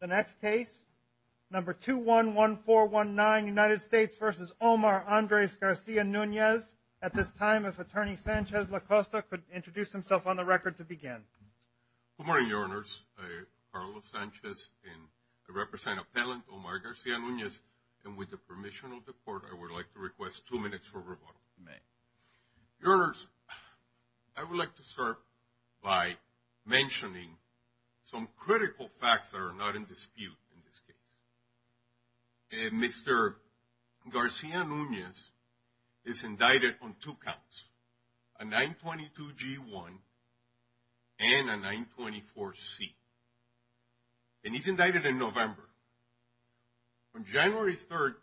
The next case, number 211419, United States v. Omar Andres Garcia-Nunez. At this time, if Attorney Sanchez Lacosta could introduce himself on the record to begin. Good morning, Your Honors. I'm Carlos Sanchez, and I represent Appellant Omar Garcia-Nunez. And with the permission of the Court, I would like to request two minutes for rebuttal. Your Honors, I would like to start by mentioning some critical facts that are not in dispute in this case. Mr. Garcia-Nunez is indicted on two counts, a 922G1 and a 924C. And he's indicted in November. On January 3rd,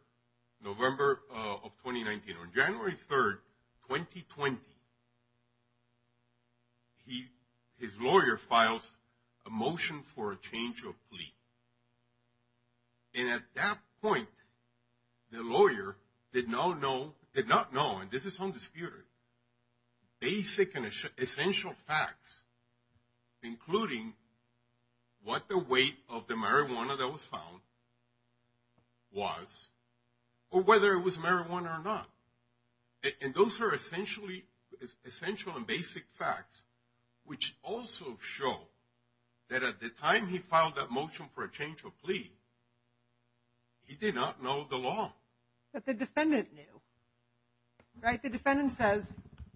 November of 2019, on January 3rd, 2020, his lawyer files a motion for a change of plea. And at that point, the lawyer did not know, and this is undisputed, basic and essential facts, including what the weight of the marijuana that was found was, or whether it was marijuana or not. And those are essential and basic facts, which also show that at the time he filed that motion for a change of plea, he did not know the law. But the defendant knew. Right, the defendant says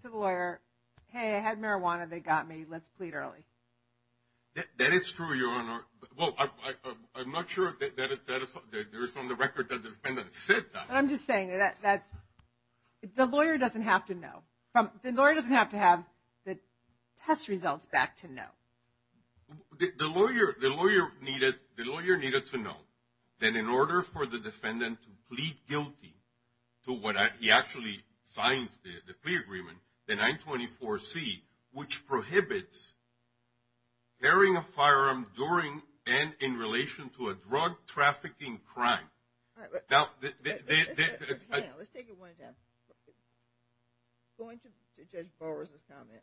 to the lawyer, hey, I had marijuana. They got me. Let's plead early. That is true, Your Honor. Well, I'm not sure that there is on the record that the defendant said that. I'm just saying that the lawyer doesn't have to know. The lawyer doesn't have to have the test results back to know. The lawyer needed to know that in order for the defendant to plead guilty to what he actually signs, the plea agreement, the 924C, which prohibits carrying a firearm during and in relation to a drug trafficking crime. Hang on. Let's take it one at a time. Going to Judge Borges' comment,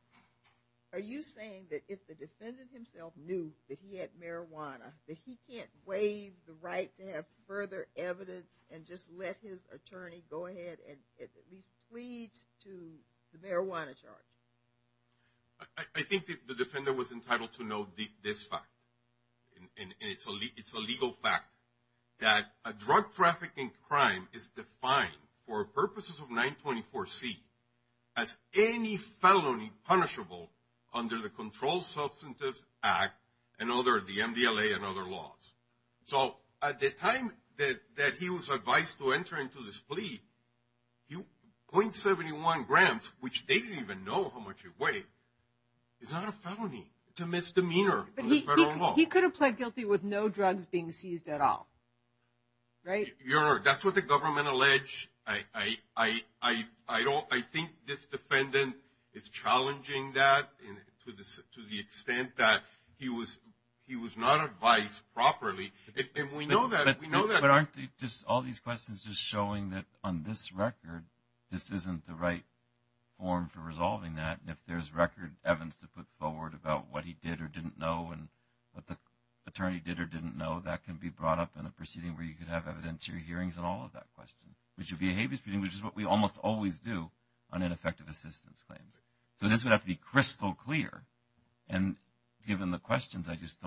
are you saying that if the defendant himself knew that he had marijuana, that he can't waive the right to have further evidence and just let his attorney go ahead and at least plead to the marijuana charge? I think the defendant was entitled to know this fact, and it's a legal fact, that a drug trafficking crime is defined for purposes of 924C as any felony punishable under the Controlled Substances Act and other, the MDLA and other laws. So at the time that he was advised to enter into this plea, .71 grams, which they didn't even know how much it weighed, is not a felony. It's a misdemeanor under federal law. But he could have pled guilty with no drugs being seized at all, right? Your Honor, that's what the government alleged. I think this defendant is challenging that to the extent that he was not advised properly. And we know that. But aren't all these questions just showing that on this record, this isn't the right form for resolving that? And if there's record evidence to put forward about what he did or didn't know and what the attorney did or didn't know, that can be brought up in a proceeding where you could have evidentiary hearings on all of that question, which would be a habeas proceeding, which is what we almost always do on ineffective assistance claims. So this would have to be crystal clear. And given the questions, I just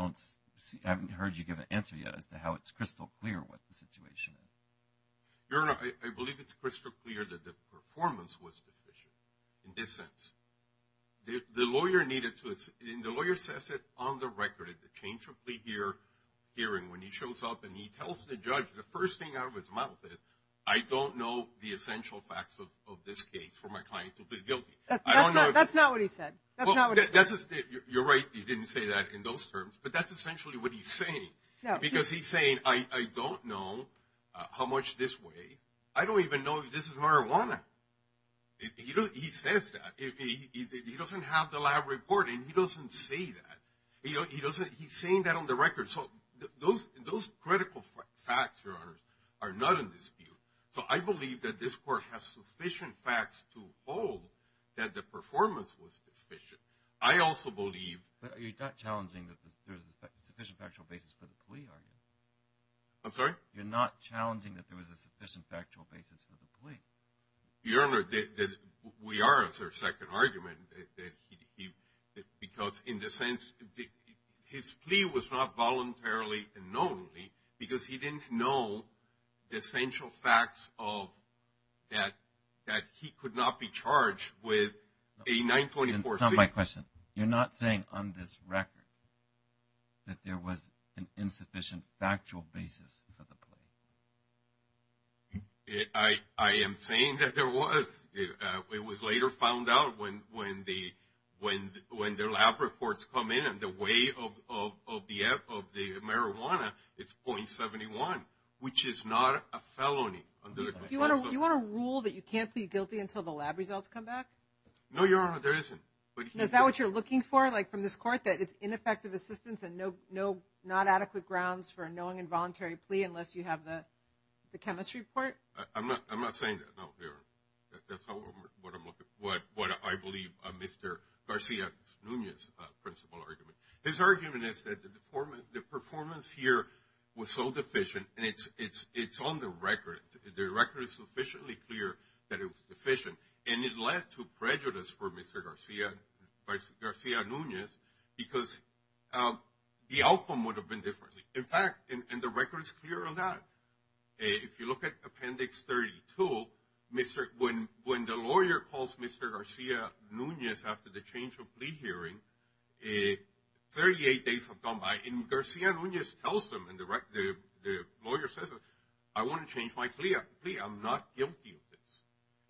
haven't heard you give an answer yet as to how it's crystal clear what the situation is. Your Honor, I believe it's crystal clear that the performance was deficient in this sense. The lawyer needed to assess it on the record at the change of plea hearing when he shows up and he tells the judge the first thing out of his mouth is, I don't know the essential facts of this case for my client to plead guilty. That's not what he said. You're right, he didn't say that in those terms. But that's essentially what he's saying. Because he's saying, I don't know how much this weighs. I don't even know if this is marijuana. He says that. He doesn't have the lab report, and he doesn't say that. He's saying that on the record. So those critical facts, Your Honor, are not in dispute. So I believe that this court has sufficient facts to hold that the performance was deficient. But you're not challenging that there's a sufficient factual basis for the plea, are you? I'm sorry? You're not challenging that there was a sufficient factual basis for the plea. Your Honor, we are. It's our second argument. Because in this sense, his plea was not voluntarily and knowingly because he didn't know the essential facts that he could not be charged with a 924C. Tom, my question. You're not saying on this record that there was an insufficient factual basis for the plea? I am saying that there was. It was later found out when the lab reports come in and the weight of the marijuana is .71, which is not a felony. Do you want to rule that you can't plead guilty until the lab results come back? No, Your Honor, there isn't. Is that what you're looking for, like from this court, that it's ineffective assistance and not adequate grounds for a knowing and voluntary plea unless you have the chemistry report? I'm not saying that, no, Your Honor. That's not what I'm looking for, what I believe Mr. Garcia Nunez's principle argument. His argument is that the performance here was so deficient, and it's on the record. The record is sufficiently clear that it was deficient. And it led to prejudice for Mr. Garcia Nunez because the outcome would have been different. In fact, and the record is clear on that. If you look at Appendix 32, when the lawyer calls Mr. Garcia Nunez after the change of plea hearing, 38 days have gone by. And Garcia Nunez tells him, and the lawyer says, I want to change my plea. I'm not guilty of this.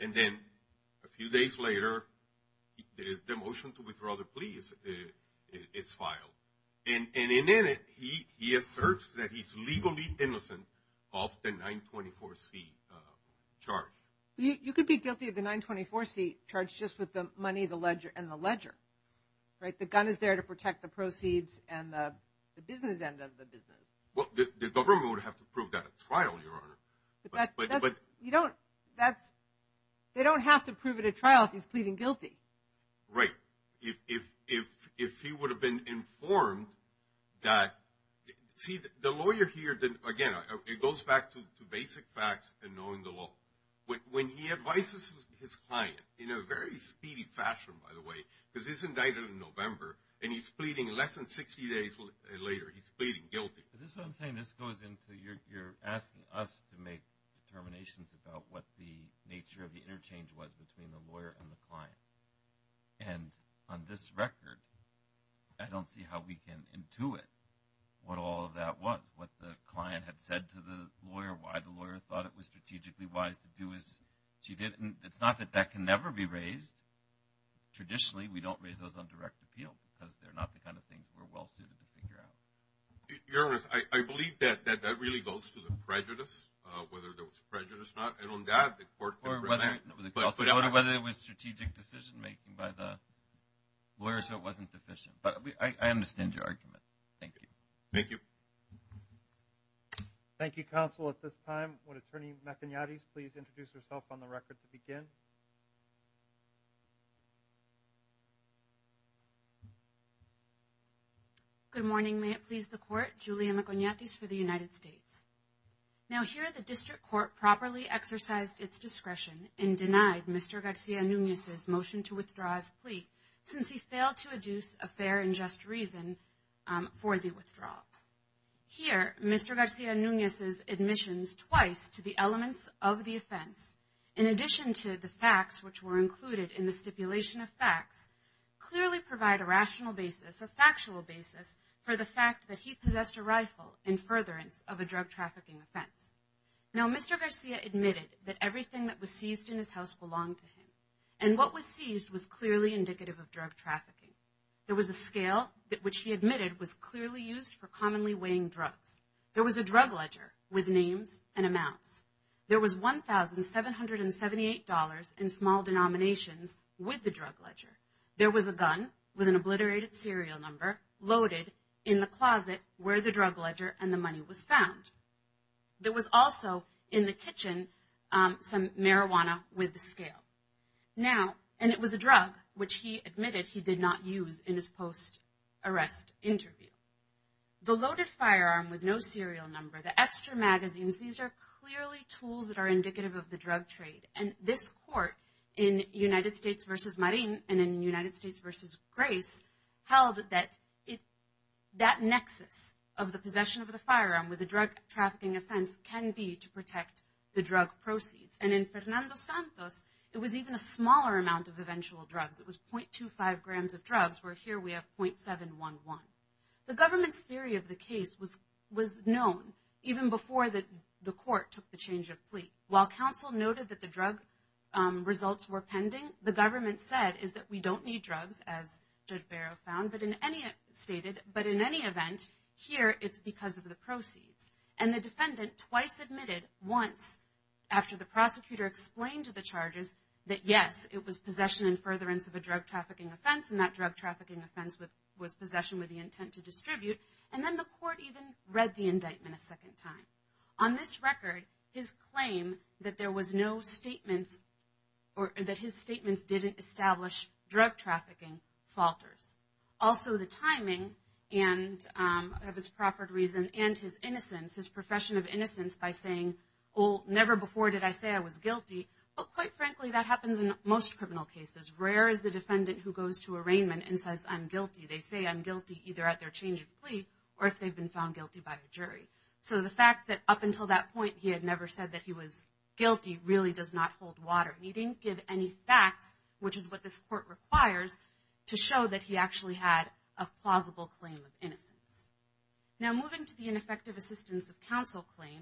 And then a few days later, the motion to withdraw the plea is filed. And in it, he asserts that he's legally innocent of the 924C charge. You could be guilty of the 924C charge just with the money and the ledger, right? The gun is there to protect the proceeds and the business end of the business. Well, the government would have to prove that at trial, Your Honor. But you don't, that's, they don't have to prove it at trial if he's pleading guilty. Right. If he would have been informed that, see, the lawyer here, again, it goes back to basic facts and knowing the law. When he advises his client, in a very speedy fashion, by the way, because he's indicted in November, and he's pleading less than 60 days later, he's pleading guilty. This is what I'm saying. This goes into you're asking us to make determinations about what the nature of the interchange was between the lawyer and the client. And on this record, I don't see how we can intuit what all of that was, what the client had said to the lawyer, why the lawyer thought it was strategically wise to do as she did. And it's not that that can never be raised. Traditionally, we don't raise those on direct appeal because they're not the kind of things we're well-suited to figure out. Your Honor, I believe that that really goes to the prejudice, whether there was prejudice or not. And on that, the court can prevent it. Or whether it was strategic decision-making by the lawyer so it wasn't deficient. But I understand your argument. Thank you. Thank you. Thank you, counsel. At this time, would Attorney McIntyre please introduce herself on the record to begin? Thank you. Good morning. May it please the Court. Julia McIntyre for the United States. Now, here the District Court properly exercised its discretion and denied Mr. Garcia-Nunez's motion to withdraw his plea since he failed to adduce a fair and just reason for the withdrawal. Here, Mr. Garcia-Nunez's admissions twice to the elements of the offense, in addition to the facts which were included in the stipulation of facts, clearly provide a rational basis, a factual basis, for the fact that he possessed a rifle in furtherance of a drug trafficking offense. Now, Mr. Garcia admitted that everything that was seized in his house belonged to him. And what was seized was clearly indicative of drug trafficking. There was a scale which he admitted was clearly used for commonly weighing drugs. There was a drug ledger with names and amounts. There was $1,778 in small denominations with the drug ledger. There was a gun with an obliterated serial number loaded in the closet where the drug ledger and the money was found. There was also in the kitchen some marijuana with the scale. Now, and it was a drug which he admitted he did not use in his post-arrest interview. The loaded firearm with no serial number, the extra magazines, these are clearly tools that are indicative of the drug trade. And this court in United States v. Marin and in United States v. Grace held that that nexus of the possession of the firearm with the drug trafficking offense can be to protect the drug proceeds. And in Fernando Santos, it was even a smaller amount of eventual drugs. It was .25 grams of drugs where here we have .711. The government's theory of the case was known even before the court took the change of plea. While counsel noted that the drug results were pending, the government said is that we don't need drugs, as Judge Barrow found, but in any event, here it's because of the proceeds. And the defendant twice admitted once after the prosecutor explained to the charges that, yes, it was possession and furtherance of a drug trafficking offense, and that drug trafficking offense was possession with the intent to distribute. And then the court even read the indictment a second time. On this record, his claim that there was no statements or that his statements didn't establish drug trafficking falters. Also, the timing of his proffered reason and his innocence, his profession of innocence by saying, well, never before did I say I was guilty, but quite frankly, that happens in most criminal cases. Rare is the defendant who goes to arraignment and says, I'm guilty. They say I'm guilty either at their change of plea or if they've been found guilty by a jury. So the fact that up until that point he had never said that he was guilty really does not hold water. He didn't give any facts, which is what this court requires, Now moving to the ineffective assistance of counsel claim,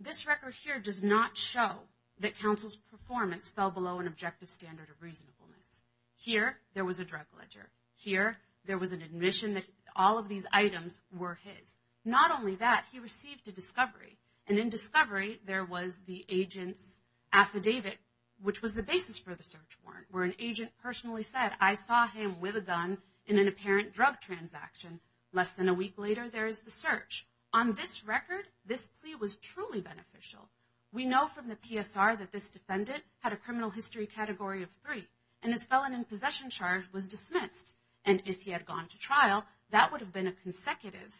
this record here does not show that counsel's performance fell below an objective standard of reasonableness. Here there was a drug ledger. Here there was an admission that all of these items were his. Not only that, he received a discovery. And in discovery there was the agent's affidavit, which was the basis for the search warrant, where an agent personally said, I saw him with a gun in an apparent drug transaction and less than a week later there is the search. On this record, this plea was truly beneficial. We know from the PSR that this defendant had a criminal history category of three and his felon in possession charge was dismissed. And if he had gone to trial, that would have been a consecutive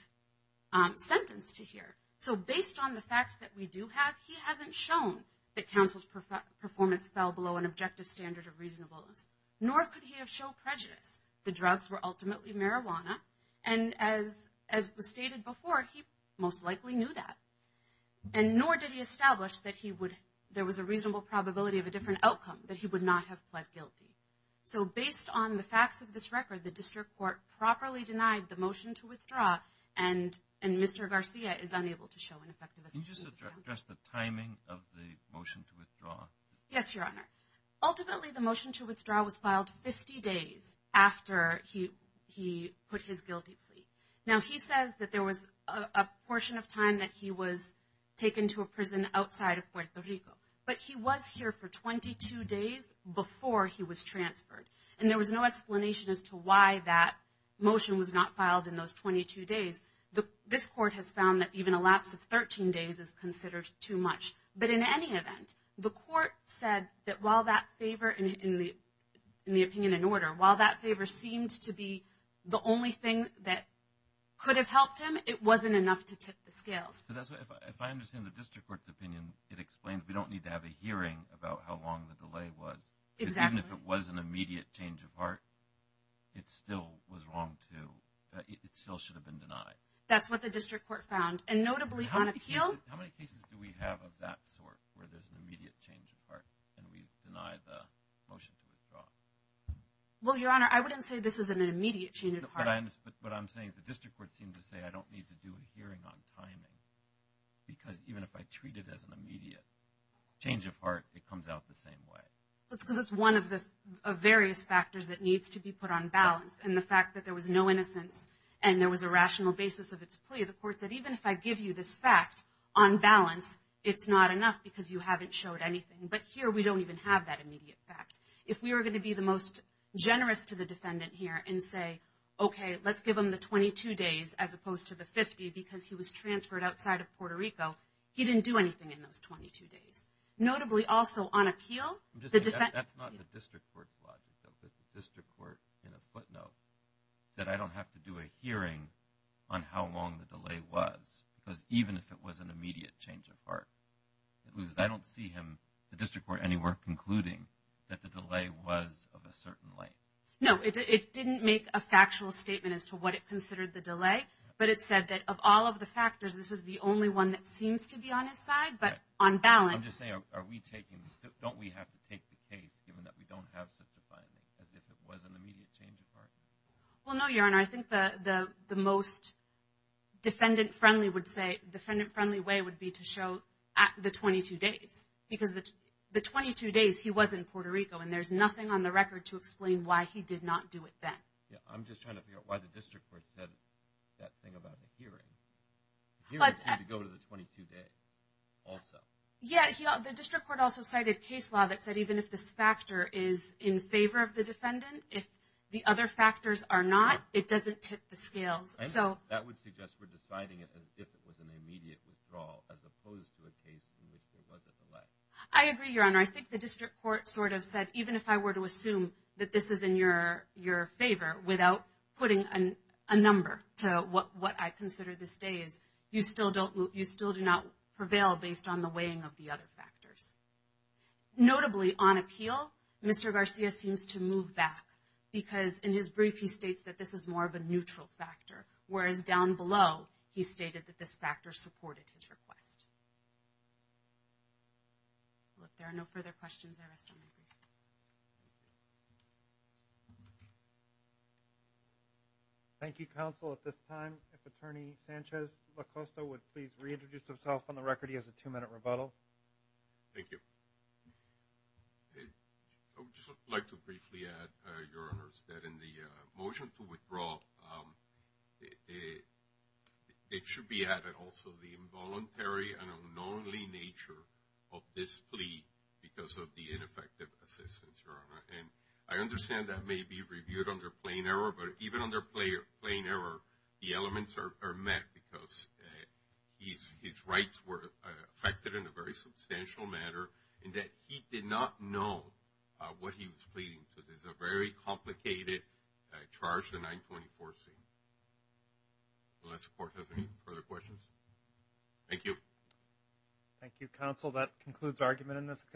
sentence to hear. So based on the facts that we do have, he hasn't shown that counsel's performance fell below an objective standard of reasonableness, nor could he have showed prejudice. The drugs were ultimately marijuana. And as was stated before, he most likely knew that. And nor did he establish that there was a reasonable probability of a different outcome, that he would not have pled guilty. So based on the facts of this record, the district court properly denied the motion to withdraw, and Mr. Garcia is unable to show an effective excuse of counsel. Can you just address the timing of the motion to withdraw? Yes, Your Honor. Ultimately the motion to withdraw was filed 50 days after he put his guilty plea. Now he says that there was a portion of time that he was taken to a prison outside of Puerto Rico, but he was here for 22 days before he was transferred. And there was no explanation as to why that motion was not filed in those 22 days. This court has found that even a lapse of 13 days is considered too much. But in any event, the court said that while that favor, in the opinion in order, while that favor seemed to be the only thing that could have helped him, it wasn't enough to tip the scales. If I understand the district court's opinion, it explains we don't need to have a hearing about how long the delay was. Exactly. Because even if it was an immediate change of heart, it still was wrong to, it still should have been denied. That's what the district court found. And notably on appeal. How many cases do we have of that sort where there's an immediate change of heart and we deny the motion to withdraw? Well, Your Honor, I wouldn't say this is an immediate change of heart. But what I'm saying is the district court seemed to say I don't need to do a hearing on timing because even if I treat it as an immediate change of heart, it comes out the same way. Because it's one of the various factors that needs to be put on balance. And the fact that there was no innocence and there was a rational basis of its plea, the court said even if I give you this fact on balance, it's not enough because you haven't showed anything. But here we don't even have that immediate fact. If we were going to be the most generous to the defendant here and say, okay, let's give him the 22 days as opposed to the 50 because he was transferred outside of Puerto Rico, he didn't do anything in those 22 days. Notably also on appeal. That's not the district court's logic, though, because the district court in a footnote said I don't have to do a hearing on how long the delay was because even if it was an immediate change of heart, it loses. I don't see him, the district court anywhere, concluding that the delay was of a certain length. No, it didn't make a factual statement as to what it considered the delay, but it said that of all of the factors, this is the only one that seems to be on his side but on balance. I'm just saying, don't we have to take the case given that we don't have such a finding as if it was an immediate change of heart? Well, no, Your Honor. I think the most defendant-friendly way would be to show the 22 days because the 22 days he was in Puerto Rico, and there's nothing on the record to explain why he did not do it then. I'm just trying to figure out why the district court said that thing about a hearing. He would seem to go to the 22 days also. Yeah, the district court also cited case law that said even if this factor is in favor of the defendant, if the other factors are not, it doesn't tip the scales. That would suggest we're deciding it as if it was an immediate withdrawal as opposed to a case in which there was a delay. I agree, Your Honor. I think the district court sort of said even if I were to assume that this is in your favor without putting a number to what I consider these days, you still do not prevail based on the weighing of the other factors. Notably, on appeal, Mr. Garcia seems to move back because in his brief he states that this is more of a neutral factor, whereas down below he stated that this factor supported his request. Well, if there are no further questions, I rest on my brief. Thank you, counsel. At this time, if Attorney Sanchez-LaCosta would please reintroduce himself on the record. He has a two-minute rebuttal. Thank you. I would just like to briefly add, Your Honors, that in the motion to withdraw, it should be added also the involuntary and unknowingly nature of this plea because of the ineffective assistance, Your Honor. And I understand that may be reviewed under plain error, but even under plain error the elements are met because his rights were affected in a very substantial manner in that he did not know what he was pleading. So this is a very complicated charge, the 924C. Unless the Court has any further questions. Thank you. Thank you, counsel. That concludes the argument in this case.